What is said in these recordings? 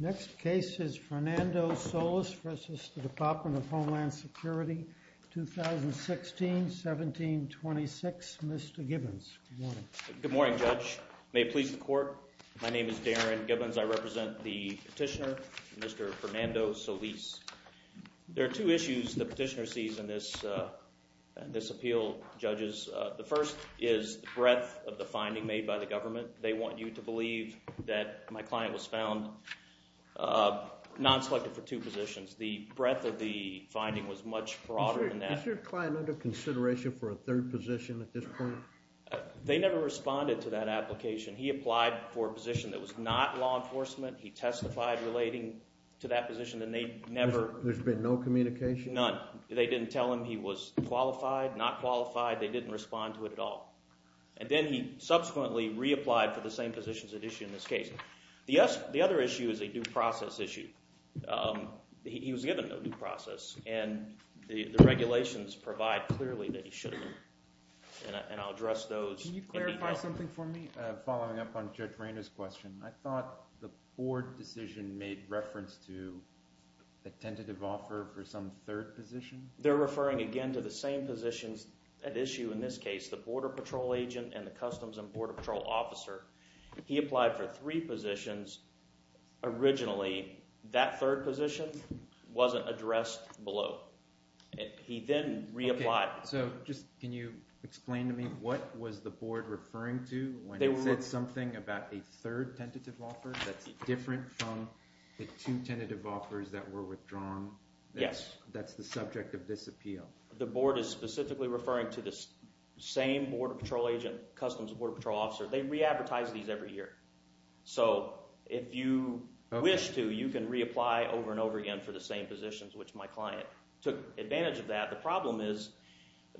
Next case is Fernando Solis v. Department of Homeland Security, 2016-1726. Mr. Gibbons, good morning. Good morning, Judge. May it please the court, my name is Darren Gibbons. I represent the petitioner, Mr. Fernando Solis. There are two issues the petitioner sees in this appeal, judges. The first is the breadth of the finding made by the government. They want you to believe that my client was found non-selective for two positions. The breadth of the finding was much broader than that. Is your client under consideration for a third position at this point? They never responded to that application. He applied for a position that was not law enforcement. He testified relating to that position and they never – There's been no communication? None. They didn't tell him he was qualified, not qualified. They didn't respond to it at all. And then he subsequently reapplied for the same positions at issue in this case. The other issue is a due process issue. He was given a due process and the regulations provide clearly that he should have been. And I'll address those in detail. Can you clarify something for me following up on Judge Rainer's question? I thought the board decision made reference to a tentative offer for some third position? They're referring again to the same positions at issue in this case, the Border Patrol agent and the Customs and Border Patrol officer. He applied for three positions originally. That third position wasn't addressed below. He then reapplied. So just can you explain to me what was the board referring to when it said something about a third tentative offer that's different from the two tentative offers that were withdrawn? Yes. That's the subject of this appeal. The board is specifically referring to the same Border Patrol agent, Customs and Border Patrol officer. They re-advertise these every year. So if you wish to, you can reapply over and over again for the same positions, which my client took advantage of that. The problem is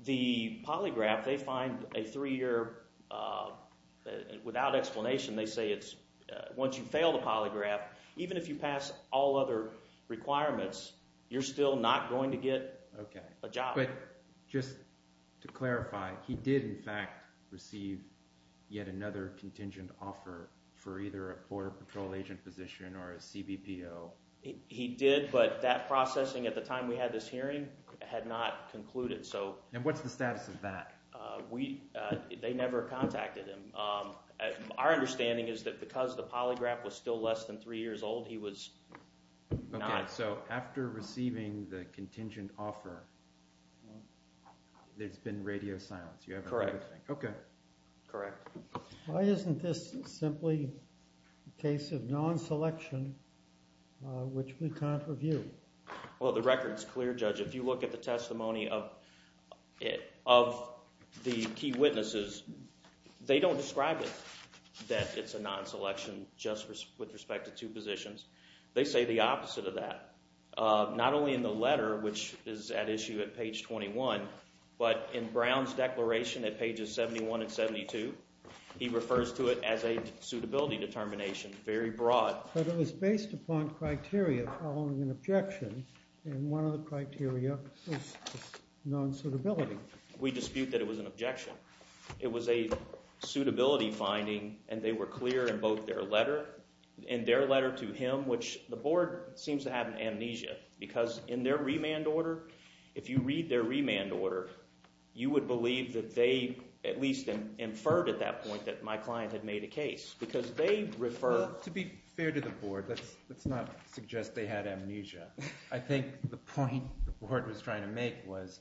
the polygraph, they find a three-year – without explanation they say it's – once you fail the polygraph, even if you pass all other requirements, you're still not going to get a job. But just to clarify, he did in fact receive yet another contingent offer for either a Border Patrol agent position or a CBPO. He did, but that processing at the time we had this hearing had not concluded. And what's the status of that? They never contacted him. Our understanding is that because the polygraph was still less than three years old, he was not – Okay, so after receiving the contingent offer, there's been radio silence. Correct. Okay. Correct. Why isn't this simply a case of non-selection, which we can't review? Well, the record's clear, Judge. If you look at the testimony of the key witnesses, they don't describe it that it's a non-selection just with respect to two positions. They say the opposite of that, not only in the letter, which is at issue at page 21, but in Brown's declaration at pages 71 and 72. He refers to it as a suitability determination, very broad. But it was based upon criteria following an objection, and one of the criteria was non-suitability. We dispute that it was an objection. It was a suitability finding, and they were clear in both their letter and their letter to him, which the board seems to have an amnesia. Because in their remand order, if you read their remand order, you would believe that they at least inferred at that point that my client had made a case because they referred – Well, to be fair to the board, let's not suggest they had amnesia. I think the point the board was trying to make was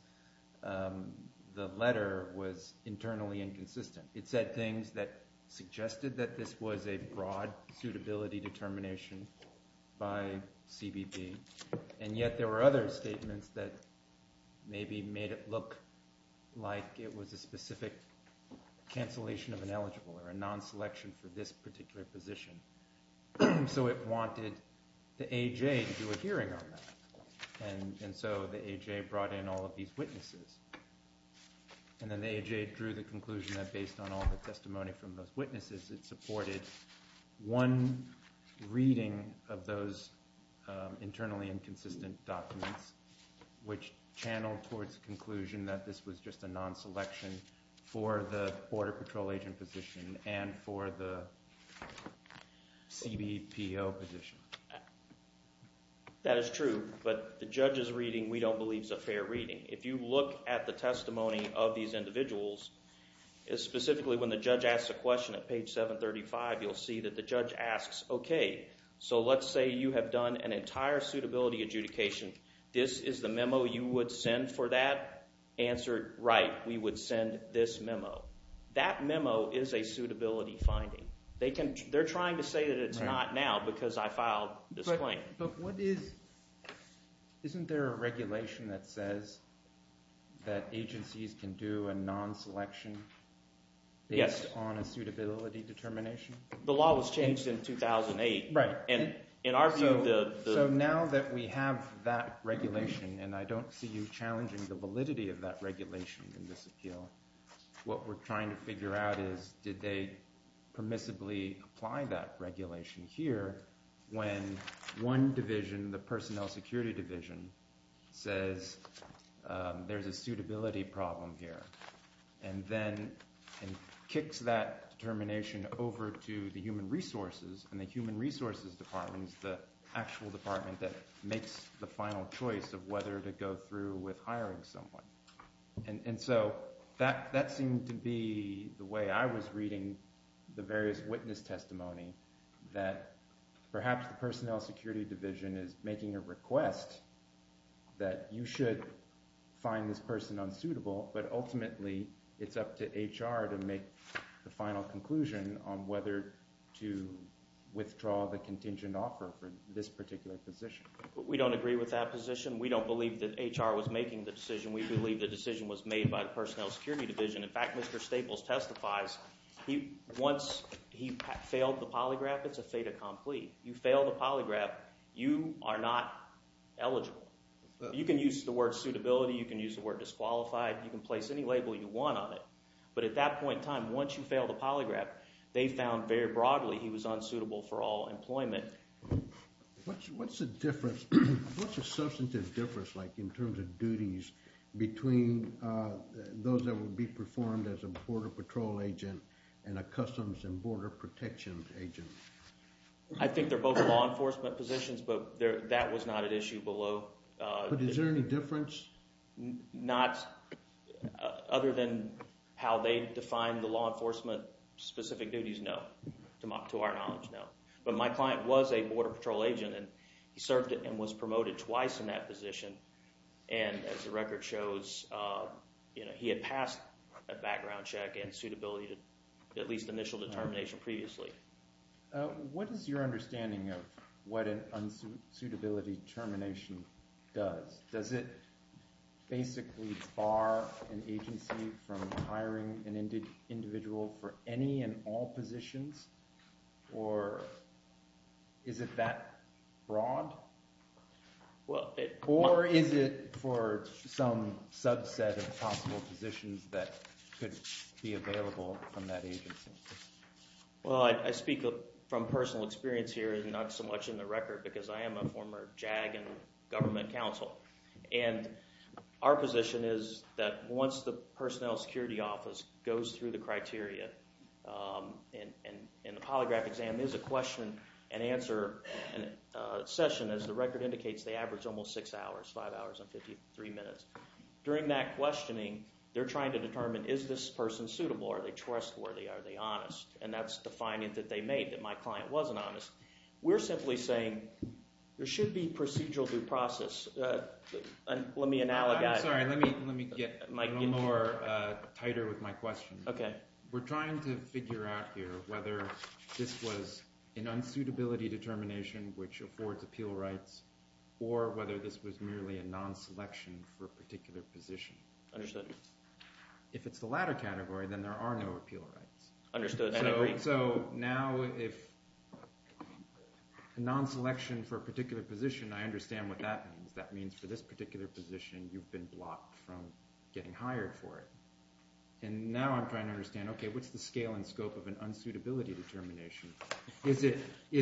the letter was internally inconsistent. It said things that suggested that this was a broad suitability determination by CBP, and yet there were other statements that maybe made it look like it was a specific cancellation of an eligible or a non-selection for this particular position. So it wanted the AJ to do a hearing on that, and so the AJ brought in all of these witnesses. And then the AJ drew the conclusion that based on all the testimony from those witnesses, it supported one reading of those internally inconsistent documents, which channeled towards the conclusion that this was just a non-selection for the Border Patrol agent position and for the CBPO position. That is true, but the judge's reading we don't believe is a fair reading. If you look at the testimony of these individuals, specifically when the judge asks a question at page 735, you'll see that the judge asks, okay, so let's say you have done an entire suitability adjudication. This is the memo you would send for that. Answer, right, we would send this memo. That memo is a suitability finding. They're trying to say that it's not now because I filed this claim. But what is – isn't there a regulation that says that agencies can do a non-selection based on a suitability determination? The law was changed in 2008. Right. And in our view, the – So now that we have that regulation, and I don't see you challenging the validity of that regulation in this appeal, what we're trying to figure out is did they permissibly apply that regulation here when one division, the personnel security division, says there's a suitability problem here and then kicks that determination over to the human resources, and the human resources department is the actual department that makes the final choice of whether to go through with hiring someone. And so that seemed to be the way I was reading the various witness testimony, that perhaps the personnel security division is making a request that you should find this person unsuitable, but ultimately it's up to HR to make the final conclusion on whether to withdraw the contingent offer for this particular position. We don't agree with that position. We don't believe that HR was making the decision. We believe the decision was made by the personnel security division. In fact, Mr. Staples testifies once he failed the polygraph, it's a fait accompli. You fail the polygraph, you are not eligible. You can use the word suitability. You can use the word disqualified. You can place any label you want on it. But at that point in time, once you fail the polygraph, they found very broadly he was unsuitable for all employment. What's the difference? What's the substantive difference like in terms of duties between those that would be performed as a border patrol agent and a customs and border protection agent? I think they're both law enforcement positions, but that was not an issue below. But is there any difference? Not other than how they define the law enforcement specific duties, no. To our knowledge, no. But my client was a border patrol agent, and he served and was promoted twice in that position. And as the record shows, he had passed a background check and suitability, at least initial determination previously. What is your understanding of what an unsuitability termination does? Does it basically bar an agency from hiring an individual for any and all positions, or is it that broad? Or is it for some subset of possible positions that could be available from that agency? Well, I speak from personal experience here and not so much in the record because I am a former JAG and government counsel. And our position is that once the personnel security office goes through the criteria and the polygraph exam is a question and answer session, as the record indicates, they average almost six hours, five hours and 53 minutes. During that questioning, they're trying to determine, is this person suitable? Are they trustworthy? Are they honest? And that's the finding that they made, that my client wasn't honest. We're simply saying there should be procedural due process. Let me analogize. I'm sorry. Let me get a little more tighter with my question. Okay. We're trying to figure out here whether this was an unsuitability determination, which affords appeal rights, or whether this was merely a non-selection for a particular position. Understood. If it's the latter category, then there are no appeal rights. Understood. So now if a non-selection for a particular position, I understand what that means. That means for this particular position, you've been blocked from getting hired for it. And now I'm trying to understand, okay, what's the scale and scope of an unsuitability determination? Is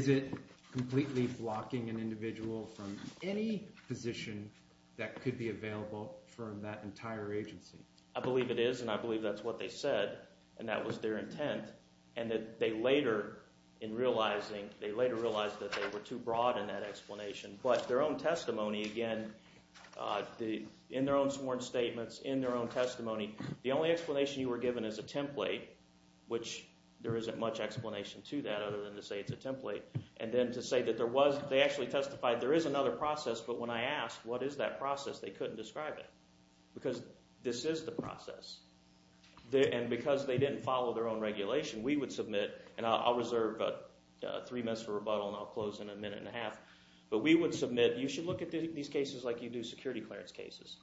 it completely blocking an individual from any position that could be available for that entire agency? I believe it is, and I believe that's what they said, and that was their intent, and that they later, in realizing, they later realized that they were too broad in that explanation. But their own testimony, again, in their own sworn statements, in their own testimony, the only explanation you were given is a template, which there isn't much explanation to that other than to say it's a template. And then to say that there was – they actually testified there is another process, but when I asked what is that process, they couldn't describe it because this is the process. And because they didn't follow their own regulation, we would submit – and I'll reserve three minutes for rebuttal, and I'll close in a minute and a half. But we would submit you should look at these cases like you do security clearance cases.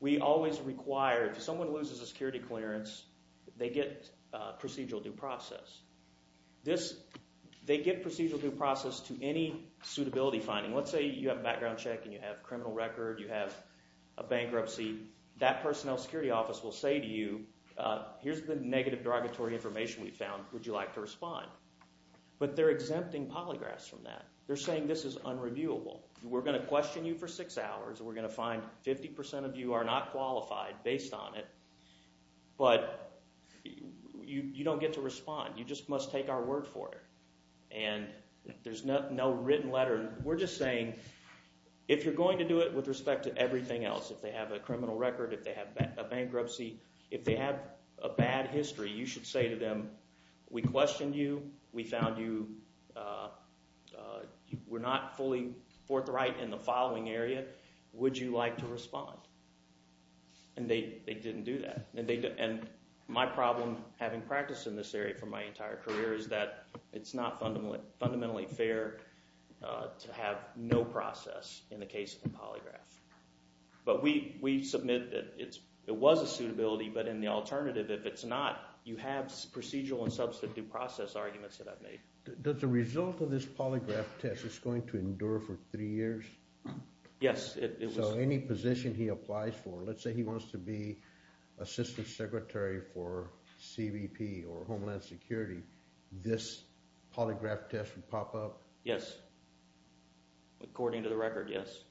We always require – if someone loses a security clearance, they get procedural due process. This – they get procedural due process to any suitability finding. Let's say you have a background check and you have a criminal record, you have a bankruptcy. That personnel security office will say to you, here's the negative derogatory information we found. Would you like to respond? But they're exempting polygraphs from that. They're saying this is unreviewable. We're going to question you for six hours. We're going to find 50% of you are not qualified based on it, but you don't get to respond. You just must take our word for it, and there's no written letter. We're just saying if you're going to do it with respect to everything else, if they have a criminal record, if they have a bankruptcy, if they have a bad history, you should say to them, we questioned you. We found you were not fully forthright in the following area. Would you like to respond? And they didn't do that. And my problem having practiced in this area for my entire career is that it's not fundamentally fair to have no process in the case of a polygraph. But we submit that it was a suitability, but in the alternative, if it's not, you have procedural and substitute process arguments that I've made. Does the result of this polygraph test, it's going to endure for three years? Yes. So any position he applies for, let's say he wants to be assistant secretary for CBP or Homeland Security, this polygraph test would pop up? Yes, according to the record, yes.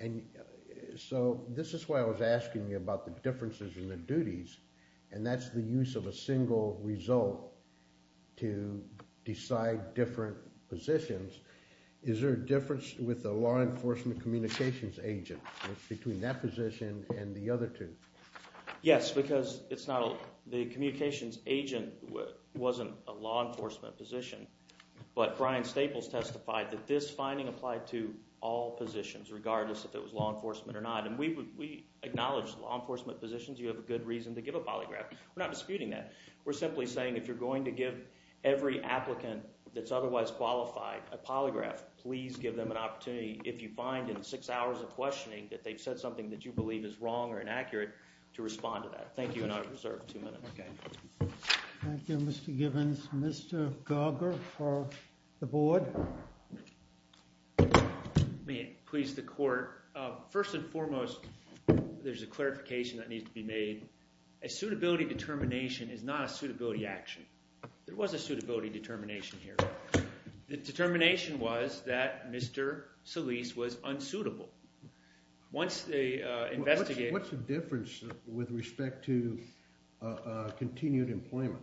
And so this is why I was asking you about the differences in the duties, and that's the use of a single result to decide different positions. Is there a difference with the law enforcement communications agent between that position and the other two? Yes, because it's not – the communications agent wasn't a law enforcement position. But Brian Staples testified that this finding applied to all positions, regardless if it was law enforcement or not. And we acknowledge law enforcement positions, you have a good reason to give a polygraph. We're not disputing that. We're simply saying if you're going to give every applicant that's otherwise qualified a polygraph, please give them an opportunity. If you find in six hours of questioning that they've said something that you believe is wrong or inaccurate, to respond to that. Thank you, and I reserve two minutes. Thank you, Mr. Givens. Mr. Garger for the board. May it please the court, first and foremost, there's a clarification that needs to be made. A suitability determination is not a suitability action. There was a suitability determination here. The determination was that Mr. Solis was unsuitable. What's the difference with respect to continued employment?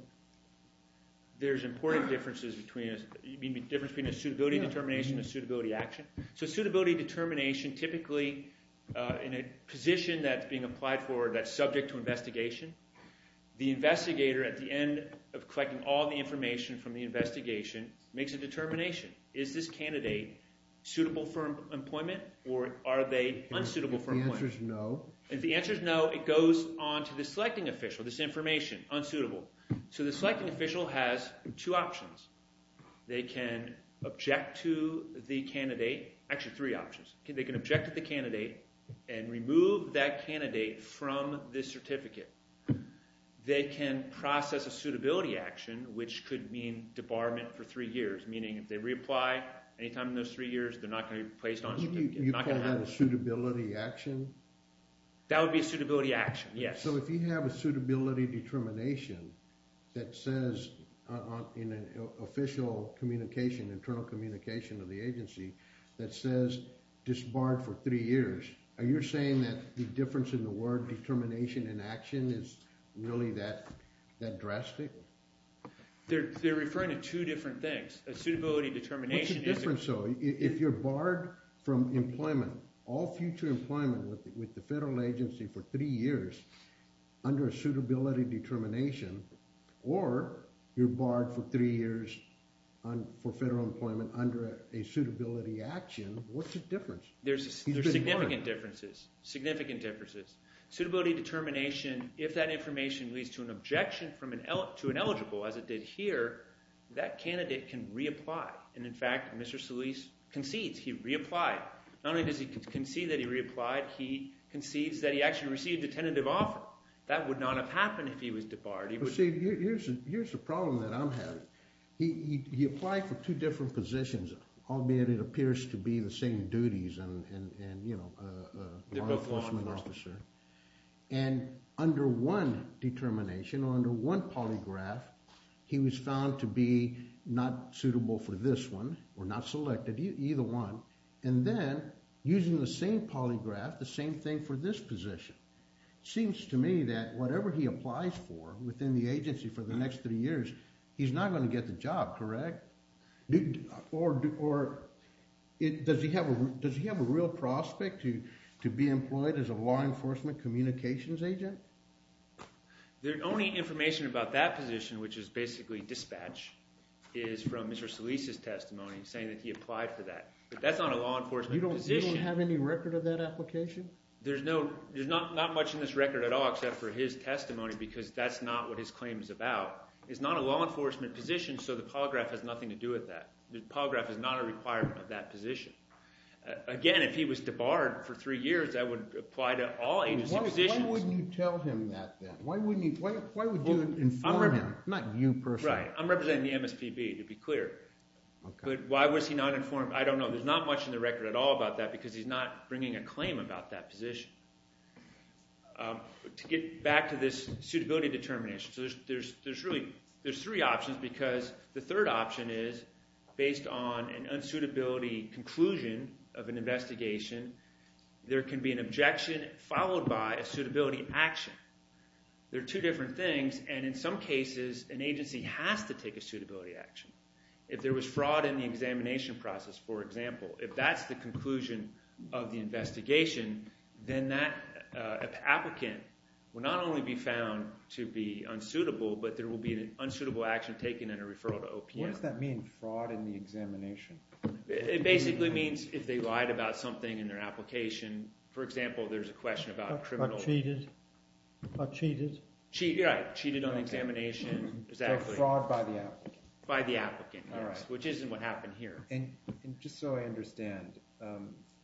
There's important differences between a suitability determination and a suitability action. So a suitability determination typically, in a position that's being applied for that's subject to investigation, the investigator, at the end of collecting all the information from the investigation, makes a determination. Is this candidate suitable for employment, or are they unsuitable for employment? If the answer is no, it goes on to the selecting official, this information, unsuitable. So the selecting official has two options. They can object to the candidate – actually, three options. They can object to the candidate and remove that candidate from the certificate. They can process a suitability action, which could mean debarment for three years, meaning if they reapply any time in those three years, they're not going to be placed on a certificate. You call that a suitability action? That would be a suitability action, yes. So if you have a suitability determination that says in an official communication, internal communication of the agency, that says disbarred for three years, are you saying that the difference in the word determination and action is really that drastic? They're referring to two different things. A suitability determination is a – What's the difference though? If you're barred from employment, all future employment with the federal agency for three years, under a suitability determination, or you're barred for three years for federal employment under a suitability action, what's the difference? There's significant differences, significant differences. Suitability determination, if that information leads to an objection to an eligible, as it did here, that candidate can reapply. And in fact, Mr. Solis concedes he reapplied. Not only does he concede that he reapplied, he concedes that he actually received a tentative offer. That would not have happened if he was debarred. See, here's the problem that I'm having. He applied for two different positions, albeit it appears to be the same duties and, you know, a law enforcement officer. And under one determination or under one polygraph, he was found to be not suitable for this one or not selected, either one. And then, using the same polygraph, the same thing for this position. It seems to me that whatever he applies for within the agency for the next three years, he's not going to get the job, correct? Or does he have a real prospect to be employed as a law enforcement communications agent? The only information about that position, which is basically dispatch, is from Mr. Solis' testimony, saying that he applied for that. But that's not a law enforcement position. You don't have any record of that application? There's not much in this record at all except for his testimony because that's not what his claim is about. It's not a law enforcement position, so the polygraph has nothing to do with that. The polygraph is not a requirement of that position. Again, if he was debarred for three years, that would apply to all agency positions. Why wouldn't you tell him that then? Why would you inform him, not you personally? Right, I'm representing the MSPB, to be clear. But why was he not informed? I don't know. There's not much in the record at all about that because he's not bringing a claim about that position. To get back to this suitability determination, there's three options because the third option is based on an unsuitability conclusion of an investigation. There can be an objection followed by a suitability action. They're two different things, and in some cases an agency has to take a suitability action. If there was fraud in the examination process, for example, if that's the conclusion of the investigation, then that applicant will not only be found to be unsuitable, but there will be an unsuitable action taken and a referral to OPM. What does that mean, fraud in the examination? It basically means if they lied about something in their application. For example, there's a question about criminal – Cheated? Right, cheated on the examination. Fraud by the applicant. By the applicant, yes, which isn't what happened here. And just so I understand,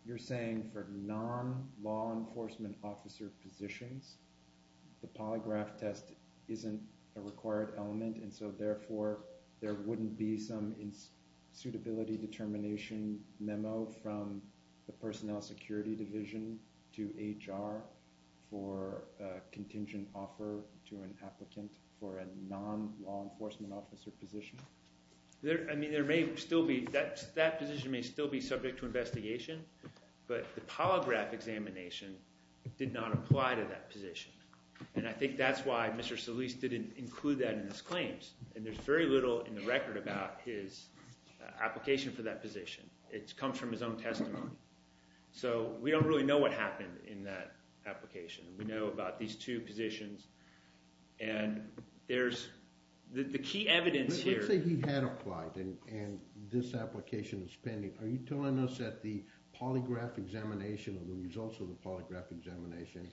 you're saying for non-law enforcement officer positions, the polygraph test isn't a required element, and so therefore there wouldn't be some suitability determination memo from the personnel security division to HR for a contingent offer to an applicant for a non-law enforcement officer position? I mean there may still be – that position may still be subject to investigation, but the polygraph examination did not apply to that position. And I think that's why Mr. Solis didn't include that in his claims, and there's very little in the record about his application for that position. It comes from his own testimony. So we don't really know what happened in that application. We know about these two positions, and there's – the key evidence here – Let's say he had applied, and this application is pending. Are you telling us that the polygraph examination or the results of the polygraph examination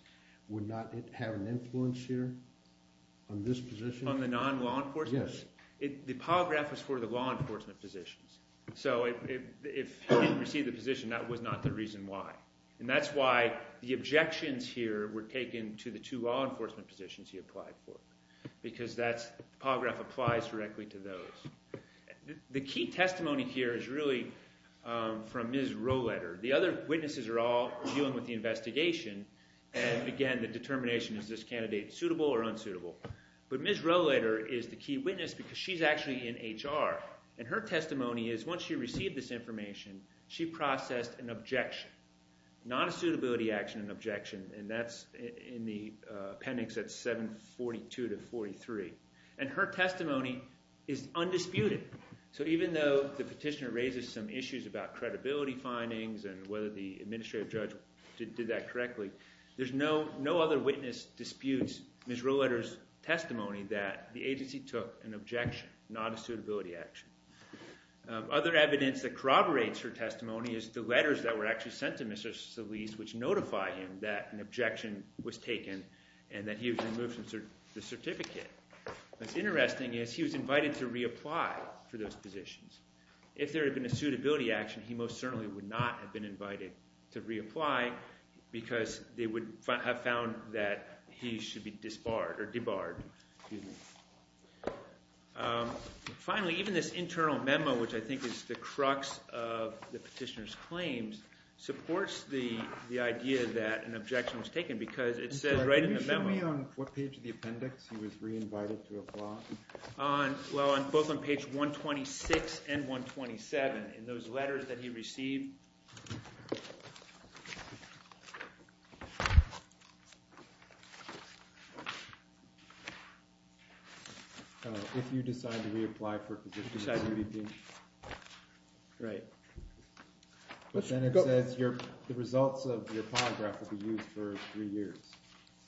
would not have an influence here on this position? On the non-law enforcement? Yes. The polygraph is for the law enforcement positions. So if he didn't receive the position, that was not the reason why. And that's why the objections here were taken to the two law enforcement positions he applied for because that's – the polygraph applies directly to those. The key testimony here is really from Ms. Rolletter. The other witnesses are all dealing with the investigation, and again, the determination is this candidate suitable or unsuitable. But Ms. Rolletter is the key witness because she's actually in HR, and her testimony is once she received this information, she processed an objection. Not a suitability action, an objection, and that's in the appendix at 742-43. And her testimony is undisputed. So even though the petitioner raises some issues about credibility findings and whether the administrative judge did that correctly, there's no other witness disputes Ms. Rolletter's testimony that the agency took an objection, not a suitability action. Other evidence that corroborates her testimony is the letters that were actually sent to Mr. Solis which notify him that an objection was taken and that he was removed from the certificate. What's interesting is he was invited to reapply for those positions. If there had been a suitability action, he most certainly would not have been invited to reapply because they would have found that he should be disbarred or debarred. Finally, even this internal memo, which I think is the crux of the petitioner's claims, supports the idea that an objection was taken because it says right in the memo – Well, both on page 126 and 127 in those letters that he received. If you decide to reapply for positions. Right. But then it says the results of your polygraph will be used for three years.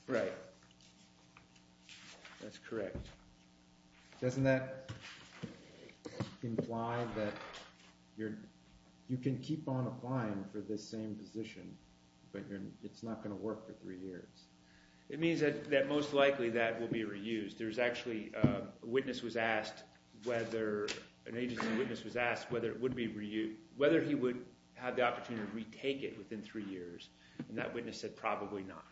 Right. That's correct. Doesn't that imply that you can keep on applying for this same position, but it's not going to work for three years? It means that most likely that will be reused. There's actually – a witness was asked whether – an agency witness was asked whether it would be – whether he would have the opportunity to retake it within three years, and that witness said probably not.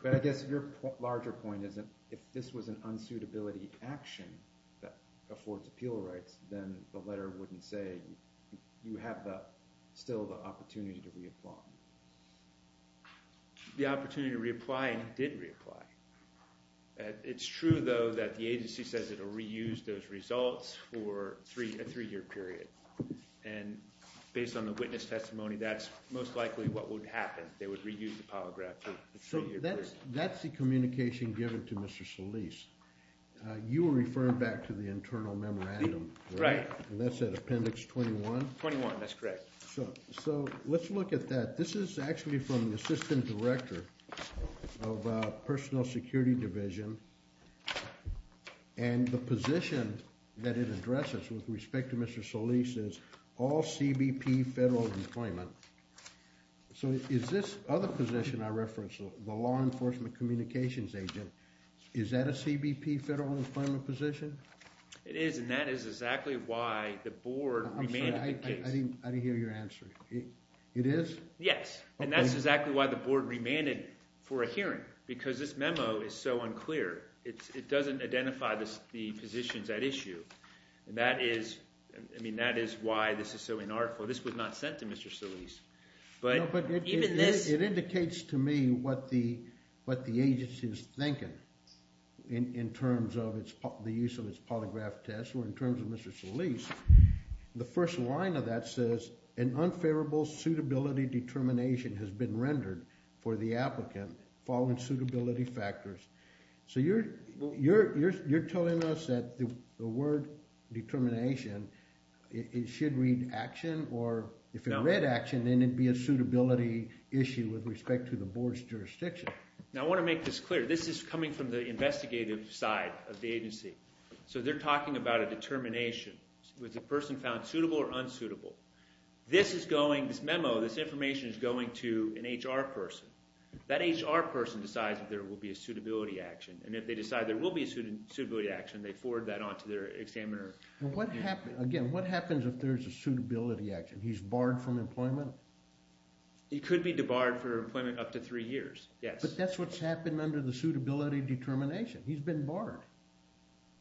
But I guess your larger point is that if this was an unsuitability action that affords appeal rights, then the letter wouldn't say you have still the opportunity to reapply. The opportunity to reapply, and he did reapply. It's true, though, that the agency says it will reuse those results for a three-year period. And based on the witness testimony, that's most likely what would happen. They would reuse the polygraph for a three-year period. So that's the communication given to Mr. Solis. You were referring back to the internal memorandum, right? Right. And that's at Appendix 21? 21, that's correct. So let's look at that. This is actually from the assistant director of personal security division, and the position that it addresses with respect to Mr. Solis is all CBP federal employment. So is this other position I referenced, the law enforcement communications agent, is that a CBP federal employment position? It is, and that is exactly why the board – I didn't hear your answer. It is? Yes, and that's exactly why the board remanded for a hearing, because this memo is so unclear. It doesn't identify the positions at issue, and that is – I mean, that is why this is so inarticulate. This was not sent to Mr. Solis. No, but it indicates to me what the agency is thinking in terms of the use of its polygraph test or in terms of Mr. Solis. The first line of that says, an unfavorable suitability determination has been rendered for the applicant following suitability factors. So you're telling us that the word determination, it should read action, or if it read action, then it would be a suitability issue with respect to the board's jurisdiction. Now, I want to make this clear. This is coming from the investigative side of the agency. So they're talking about a determination. Was the person found suitable or unsuitable? This is going – this memo, this information is going to an HR person. That HR person decides if there will be a suitability action, and if they decide there will be a suitability action, they forward that on to their examiner. What happens – again, what happens if there's a suitability action? He's barred from employment? He could be debarred for employment up to three years, yes. But that's what's happened under the suitability determination. He's been barred.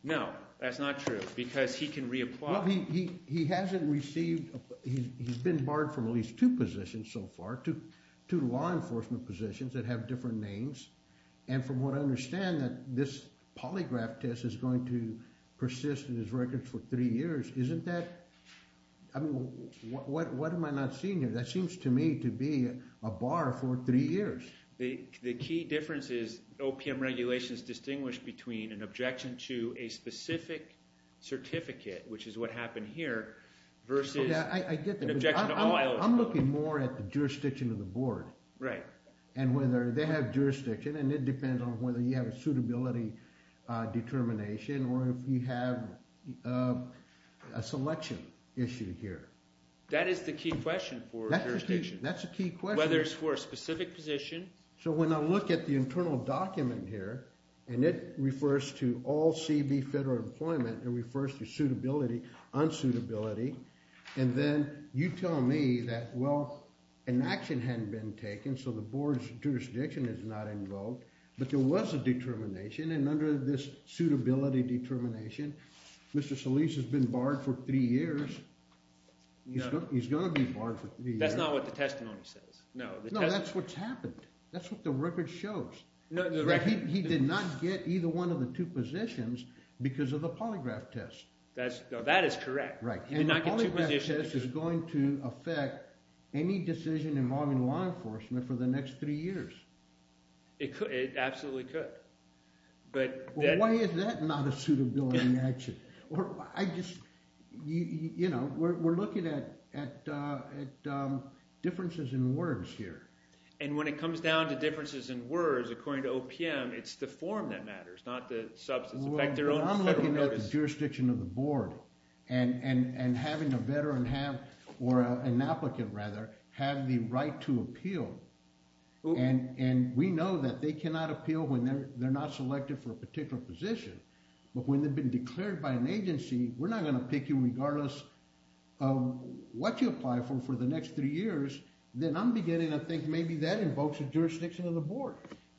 No, that's not true because he can reapply. Well, he hasn't received – he's been barred from at least two positions so far, two law enforcement positions that have different names. And from what I understand, this polygraph test is going to persist in his records for three years. Isn't that – I mean what am I not seeing here? That seems to me to be a bar for three years. The key difference is OPM regulations distinguish between an objection to a specific certificate, which is what happened here, versus – I get that. I'm looking more at the jurisdiction of the board. Right. And whether they have jurisdiction, and it depends on whether you have a suitability determination or if you have a selection issue here. That is the key question for jurisdiction. That's the key question. Whether it's for a specific position. So when I look at the internal document here, and it refers to all CB federal employment, it refers to suitability, unsuitability. And then you tell me that, well, an action hadn't been taken, so the board's jurisdiction is not invoked. But there was a determination, and under this suitability determination, Mr. Solis has been barred for three years. He's going to be barred for three years. That's not what the testimony says. No, that's what's happened. That's what the record shows. He did not get either one of the two positions because of the polygraph test. That is correct. Right. He did not get two positions. And the polygraph test is going to affect any decision involving law enforcement for the next three years. It absolutely could. Why is that not a suitability action? You know, we're looking at differences in words here. And when it comes down to differences in words, according to OPM, it's the form that matters, not the substance. Well, I'm looking at the jurisdiction of the board. And having a veteran have – or an applicant, rather, have the right to appeal. And we know that they cannot appeal when they're not selected for a particular position. But when they've been declared by an agency, we're not going to pick you regardless of what you apply for for the next three years. Then I'm beginning to think maybe that invokes a jurisdiction of the board.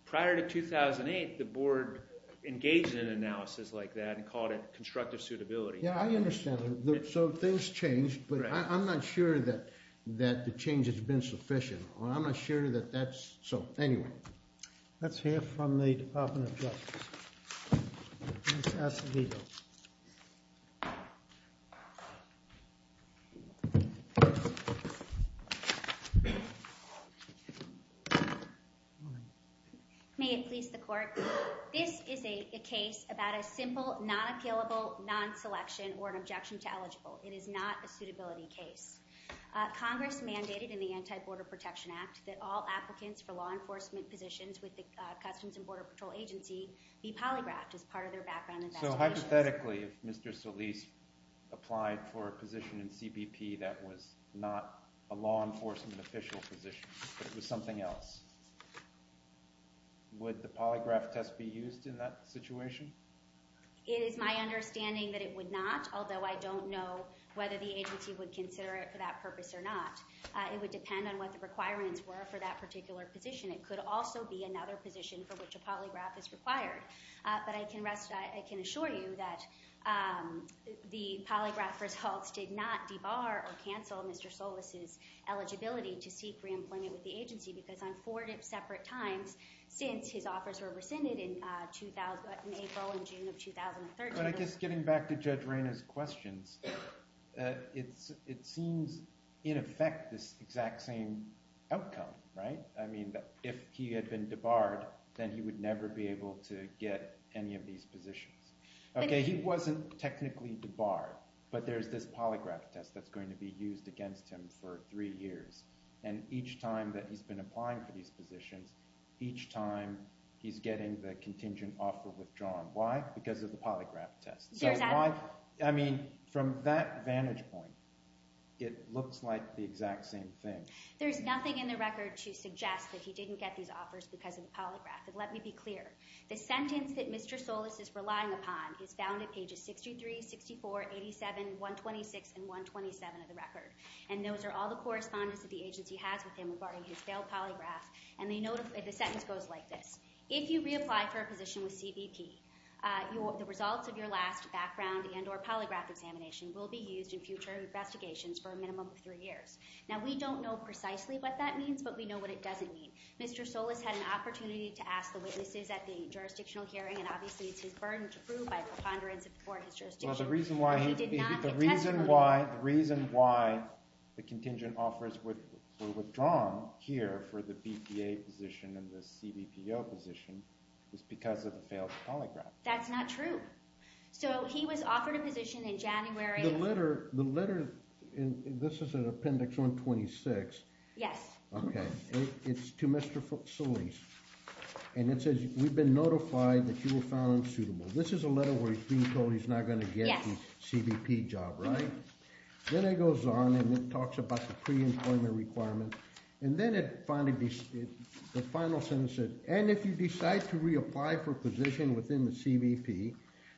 Prior to 2008, the board engaged in an analysis like that and called it constructive suitability. Yeah, I understand. So things changed, but I'm not sure that the change has been sufficient. I'm not sure that that's so. Anyway. Let's hear from the Department of Justice. Ms. Acevedo. May it please the court. This is a case about a simple, not appealable, non-selection, or an objection to eligible. It is not a suitability case. Congress mandated in the Anti-Border Protection Act that all applicants for law enforcement positions with the Customs and Border Patrol Agency be polygraphed as part of their background investigation. So hypothetically, if Mr. Solis applied for a position in CBP that was not a law enforcement official position but it was something else, would the polygraph test be used in that situation? It is my understanding that it would not, although I don't know whether the agency would consider it for that purpose or not. It would depend on what the requirements were for that particular position. It could also be another position for which a polygraph is required. But I can assure you that the polygraph results did not debar or cancel Mr. Solis' eligibility to seek reemployment with the agency because on four separate times since his offers were rescinded in April and June of 2013. But I guess getting back to Judge Reyna's questions, it seems, in effect, this exact same outcome, right? I mean, if he had been debarred, then he would never be able to get any of these positions. Okay, he wasn't technically debarred, but there's this polygraph test that's going to be used against him for three years. And each time that he's been applying for these positions, each time he's getting the contingent offer withdrawn. Why? Because of the polygraph test. I mean, from that vantage point, it looks like the exact same thing. There's nothing in the record to suggest that he didn't get these offers because of the polygraph. But let me be clear. The sentence that Mr. Solis is relying upon is found at pages 63, 64, 87, 126, and 127 of the record. And those are all the correspondence that the agency has with him regarding his failed polygraph. And the sentence goes like this. If you reapply for a position with CBP, the results of your last background and or polygraph examination will be used in future investigations for a minimum of three years. Now, we don't know precisely what that means, but we know what it doesn't mean. Mr. Solis had an opportunity to ask the witnesses at the jurisdictional hearing, and obviously it's his burden to prove by preponderance before his jurisdiction. The reason why the contingent offers were withdrawn here for the BPA position and the CBPO position is because of the failed polygraph. That's not true. So he was offered a position in January. The letter, this is in appendix 126. Yes. Okay. It's to Mr. Solis. And it says, we've been notified that you were found unsuitable. This is a letter where he's being told he's not going to get the CBP job, right? Then it goes on and it talks about the pre-employment requirement. And then it finally, the final sentence says, and if you decide to reapply for a position within the CBP,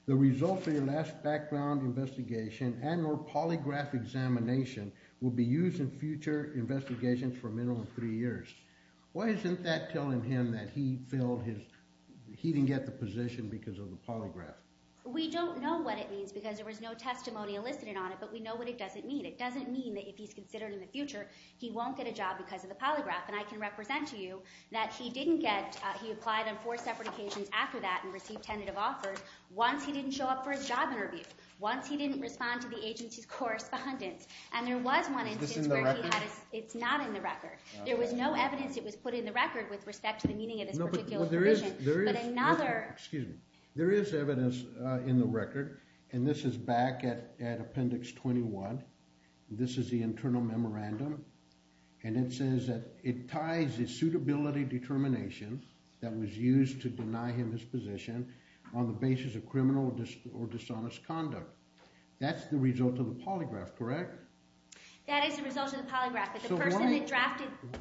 the results of your last background investigation and or polygraph examination will be used in future investigations for a minimum of three years. Why isn't that telling him that he filled his, he didn't get the position because of the polygraph? We don't know what it means because there was no testimony elicited on it, but we know what it doesn't mean. It doesn't mean that if he's considered in the future, he won't get a job because of the polygraph. And I can represent to you that he didn't get, he applied on four separate occasions after that and received tentative offers. Once he didn't show up for his job interview. Once he didn't respond to the agency's correspondence. And there was one instance where he had a, it's not in the record. There was no evidence it was put in the record with respect to the meaning of this particular provision. Excuse me. There is evidence in the record. And this is back at appendix 21. This is the internal memorandum. And it says that it ties the suitability determination that was used to deny him his position on the basis of criminal or dishonest conduct. That's the result of the polygraph, correct? That is the result of the polygraph.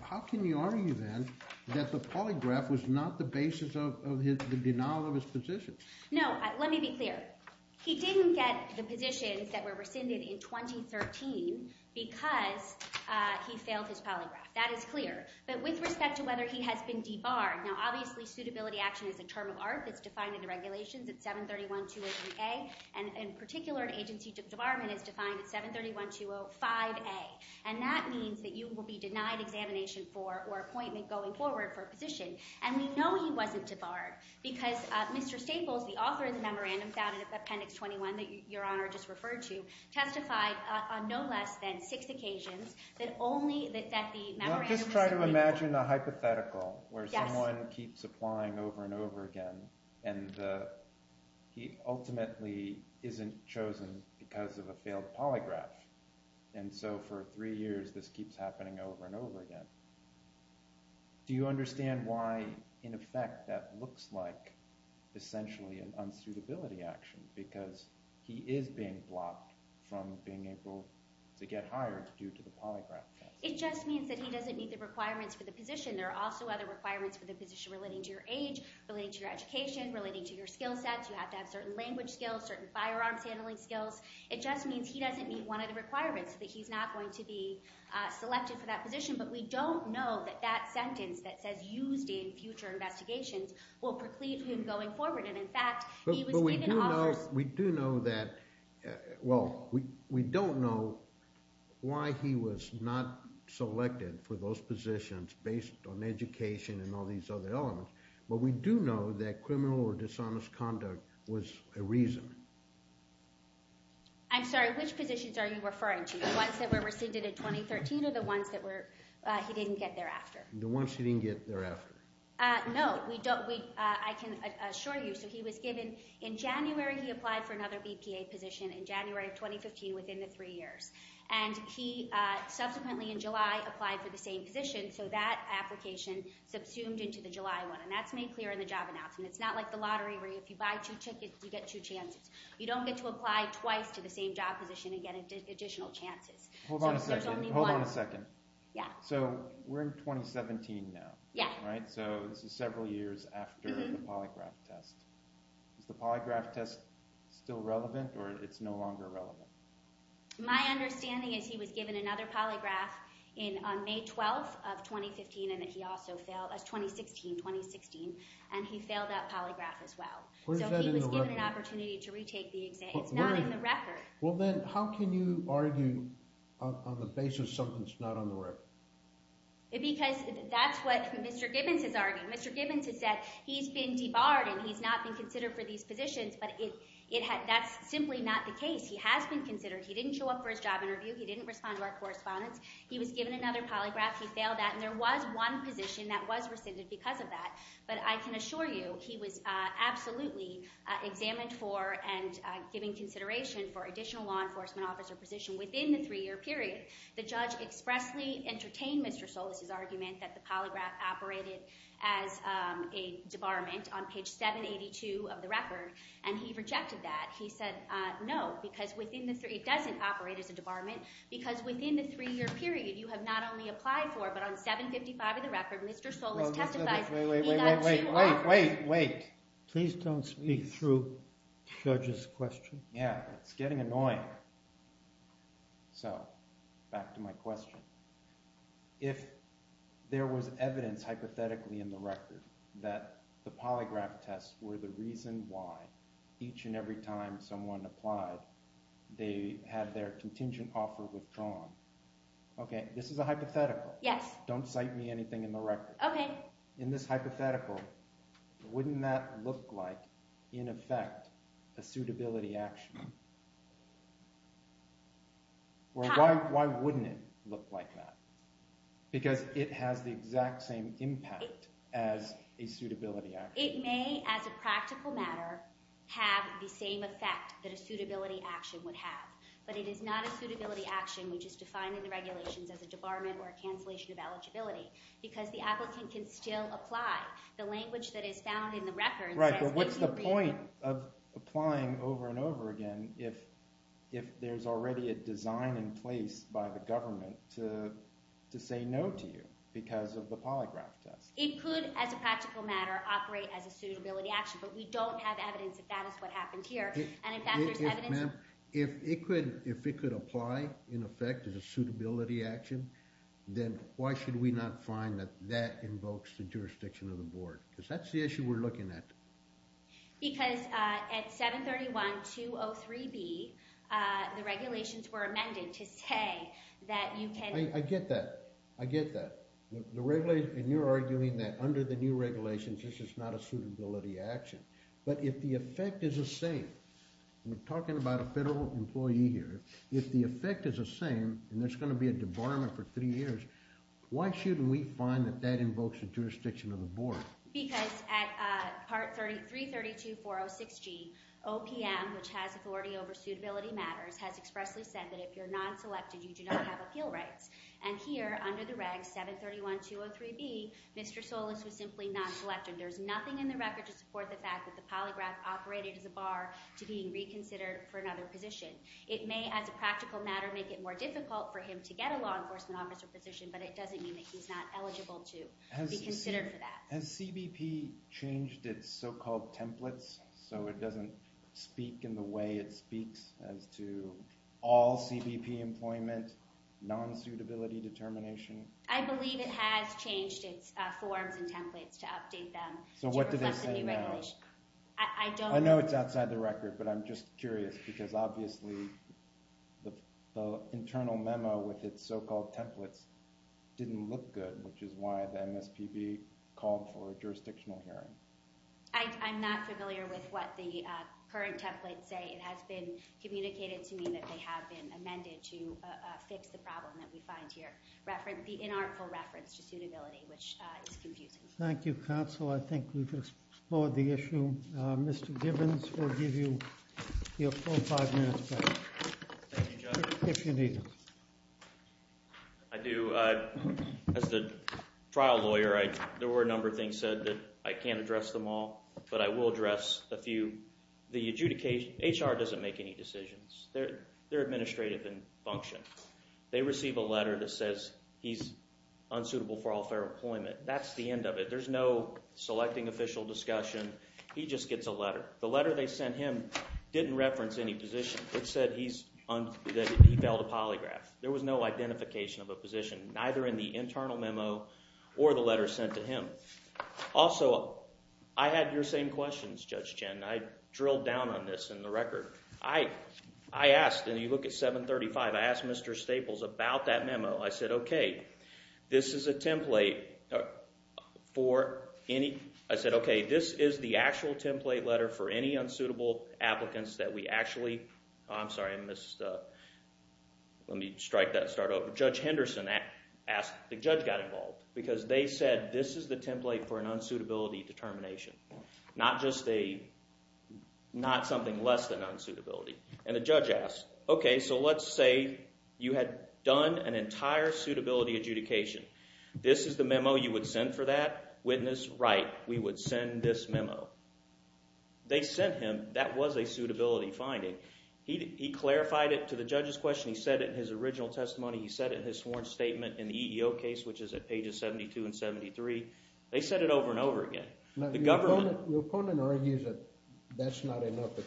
How can you argue then that the polygraph was not the basis of the denial of his position? No. Let me be clear. He didn't get the positions that were rescinded in 2013 because he failed his polygraph. That is clear. But with respect to whether he has been debarred. Now, obviously, suitability action is a term of art that's defined in the regulations at 731-203A. And in particular, an agency debarment is defined at 731-205A. And that means that you will be denied examination for or appointment going forward for a position. And we know he wasn't debarred because Mr. Staples, the author of the memorandum found in appendix 21 that Your Honor just referred to, testified on no less than six occasions that only that the memorandum was— Just try to imagine a hypothetical where someone keeps applying over and over again. And he ultimately isn't chosen because of a failed polygraph. And so for three years this keeps happening over and over again. Do you understand why, in effect, that looks like essentially an unsuitability action? Because he is being blocked from being able to get hired due to the polygraph test. It just means that he doesn't meet the requirements for the position. There are also other requirements for the position relating to your age, relating to your education, relating to your skill sets. You have to have certain language skills, certain firearms handling skills. It just means he doesn't meet one of the requirements, that he's not going to be selected for that position. But we don't know that that sentence that says used in future investigations will preclude him going forward. And, in fact, he was even offered— But we do know that—well, we don't know why he was not selected for those positions based on education and all these other elements. But we do know that criminal or dishonest conduct was a reason. I'm sorry, which positions are you referring to, the ones that were rescinded in 2013 or the ones that were—he didn't get thereafter? The ones he didn't get thereafter. No, we don't—I can assure you. So he was given—in January he applied for another BPA position, in January of 2015, within the three years. And he subsequently, in July, applied for the same position, so that application subsumed into the July one. And that's made clear in the job announcement. It's not like the lottery where if you buy two tickets, you get two chances. You don't get to apply twice to the same job position and get additional chances. Hold on a second. So there's only one— Hold on a second. Yeah. So we're in 2017 now. Yeah. Right? So this is several years after the polygraph test. Is the polygraph test still relevant, or it's no longer relevant? My understanding is he was given another polygraph on May 12 of 2015, and that he also failed—2016, 2016, and he failed that polygraph as well. So he was given an opportunity to retake the exam. Where is that in the record? It's not in the record. Well, then how can you argue on the basis of something that's not on the record? Because that's what Mr. Gibbons is arguing. Mr. Gibbons has said he's been debarred and he's not been considered for these positions, but that's simply not the case. He has been considered. He didn't show up for his job interview. He didn't respond to our correspondence. He was given another polygraph. He failed that, and there was one position that was rescinded because of that. But I can assure you he was absolutely examined for and given consideration for additional law enforcement officer position within the three-year period. The judge expressly entertained Mr. Solis' argument that the polygraph operated as a debarment on page 782 of the record, and he rejected that. He said no, because within the – it doesn't operate as a debarment because within the three-year period you have not only applied for, but on 755 of the record Mr. Solis testified he got two offers. Wait, wait, wait. Please don't speak through the judge's question. Yeah, it's getting annoying. So back to my question. If there was evidence hypothetically in the record that the polygraph tests were the reason why each and every time someone applied they had their contingent offer withdrawn. Okay, this is a hypothetical. Yes. Don't cite me anything in the record. Okay. So in this hypothetical, wouldn't that look like, in effect, a suitability action? Why wouldn't it look like that? Because it has the exact same impact as a suitability action. It may, as a practical matter, have the same effect that a suitability action would have. But it is not a suitability action, which is defined in the regulations as a debarment or a cancellation of eligibility, because the applicant can still apply. The language that is found in the record says – Right, but what's the point of applying over and over again if there's already a design in place by the government to say no to you because of the polygraph test? It could, as a practical matter, operate as a suitability action, but we don't have evidence that that is what happened here. Ma'am, if it could apply, in effect, as a suitability action, then why should we not find that that invokes the jurisdiction of the board? Because that's the issue we're looking at. Because at 731-203-B, the regulations were amended to say that you can – I get that. I get that. And you're arguing that under the new regulations this is not a suitability action. But if the effect is the same – we're talking about a federal employee here. If the effect is the same and there's going to be a debarment for three years, why shouldn't we find that that invokes the jurisdiction of the board? Because at Part 332-406-G, OPM, which has authority over suitability matters, has expressly said that if you're non-selected, you do not have appeal rights. And here, under the reg 731-203-B, Mr. Solis was simply non-selected. There's nothing in the record to support the fact that the polygraph operated as a bar to being reconsidered for another position. It may, as a practical matter, make it more difficult for him to get a law enforcement officer position, but it doesn't mean that he's not eligible to be considered for that. Has CBP changed its so-called templates so it doesn't speak in the way it speaks as to all CBP employment, non-suitability determination? I believe it has changed its forms and templates to update them. So what do they say now? I'm not familiar with what the current templates say. It has been communicated to me that they have been amended to fix the problem that we find here, the inarticulate reference to suitability, which is confusing. Thank you, counsel. I think we've explored the issue. Mr. Gibbons, we'll give you your full five minutes back, if you need it. I do. As the trial lawyer, there were a number of things said that I can't address them all, but I will address a few. The adjudication – HR doesn't make any decisions. They're administrative in function. They receive a letter that says he's unsuitable for all fair employment. That's the end of it. There's no selecting official discussion. He just gets a letter. The letter they sent him didn't reference any position. It said he failed a polygraph. There was no identification of a position, neither in the internal memo or the letter sent to him. Also, I had your same questions, Judge Chen. I drilled down on this in the record. I asked – and you look at 735 – I asked Mr. Staples about that memo. I said, okay, this is a template for any – I'm sorry, I missed – let me strike that start over. Judge Henderson asked – the judge got involved because they said this is the template for an unsuitability determination, not just a – not something less than unsuitability. And the judge asked, okay, so let's say you had done an entire suitability adjudication. This is the memo you would send for that? Witness, write, we would send this memo. They sent him – that was a suitability finding. He clarified it to the judge's question. He said it in his original testimony. He said it in his sworn statement in the EEO case, which is at pages 72 and 73. They said it over and over again. The government – Your opponent argues that that's not enough, that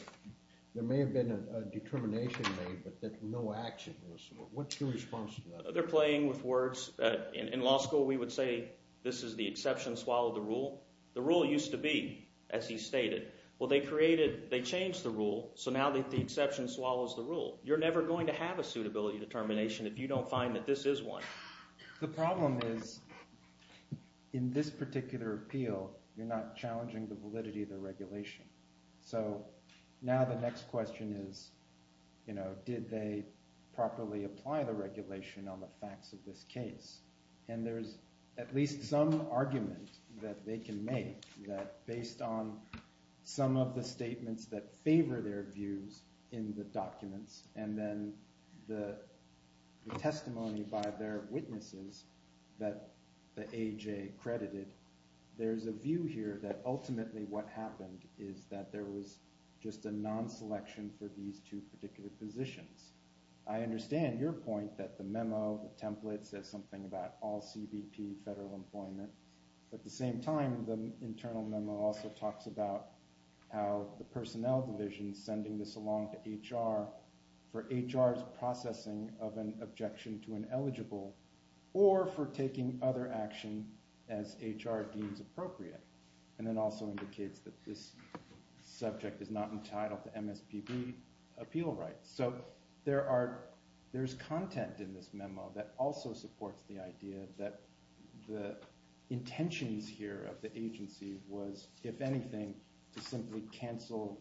there may have been a determination made, but that no action was – what's your response to that? They're playing with words. In law school, we would say this is the exception, swallow the rule. The rule used to be, as he stated – well, they created – they changed the rule, so now the exception swallows the rule. You're never going to have a suitability determination if you don't find that this is one. The problem is in this particular appeal, you're not challenging the validity of the regulation. So now the next question is did they properly apply the regulation on the facts of this case? And there's at least some argument that they can make that based on some of the statements that favor their views in the documents and then the testimony by their witnesses that the AJ credited, there's a view here that ultimately what happened is that there was just a non-selection for these two particular positions. I understand your point that the memo, the template says something about all CBP federal employment. At the same time, the internal memo also talks about how the personnel division is sending this along to HR for HR's processing of an objection to an eligible or for taking other action as HR deems appropriate. And it also indicates that this subject is not entitled to MSPB appeal rights. So there's content in this memo that also supports the idea that the intentions here of the agency was, if anything, to simply cancel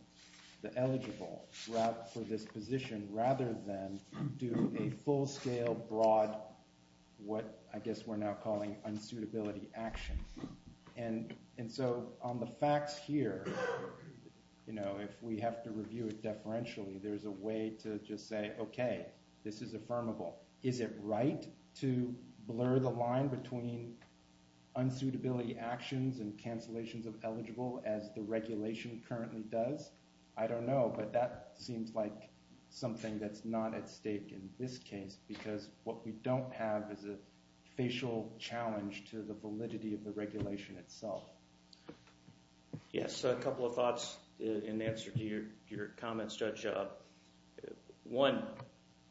the eligible route for this position rather than do a full-scale, broad, what I guess we're now calling unsuitability action. And so on the facts here, if we have to review it deferentially, there's a way to just say, okay, this is affirmable. Is it right to blur the line between unsuitability actions and cancellations of eligible as the regulation currently does? I don't know. But that seems like something that's not at stake in this case because what we don't have is a facial challenge to the validity of the regulation itself. Yes, a couple of thoughts in answer to your comments, Judge. One,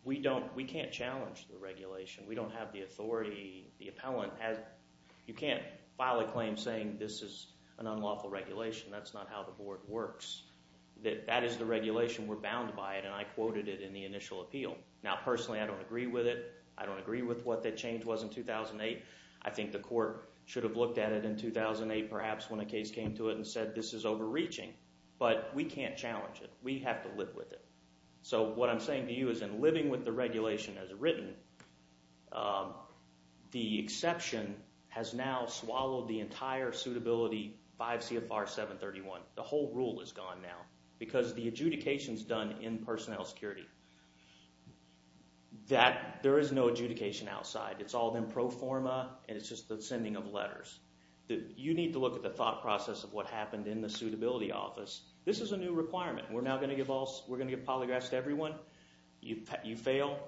we don't – we can't challenge the regulation. We don't have the authority. The appellant has – you can't file a claim saying this is an unlawful regulation. That's not how the board works. That is the regulation. We're bound by it, and I quoted it in the initial appeal. Now, personally, I don't agree with it. I don't agree with what that change was in 2008. I think the court should have looked at it in 2008 perhaps when a case came to it and said this is overreaching. But we can't challenge it. We have to live with it. So what I'm saying to you is in living with the regulation as written, the exception has now swallowed the entire suitability 5 CFR 731. The whole rule is gone now because the adjudication is done in personnel security. That – there is no adjudication outside. It's all in pro forma, and it's just the sending of letters. You need to look at the thought process of what happened in the suitability office. This is a new requirement. We're now going to give all – we're going to give polygraphs to everyone. You fail.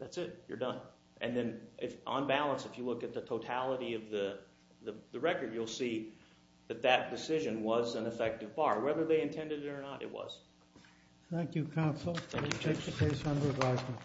That's it. You're done. And then on balance, if you look at the totality of the record, you'll see that that decision was an effective bar. Whether they intended it or not, it was. Thank you, counsel. We'll take the case under advisement.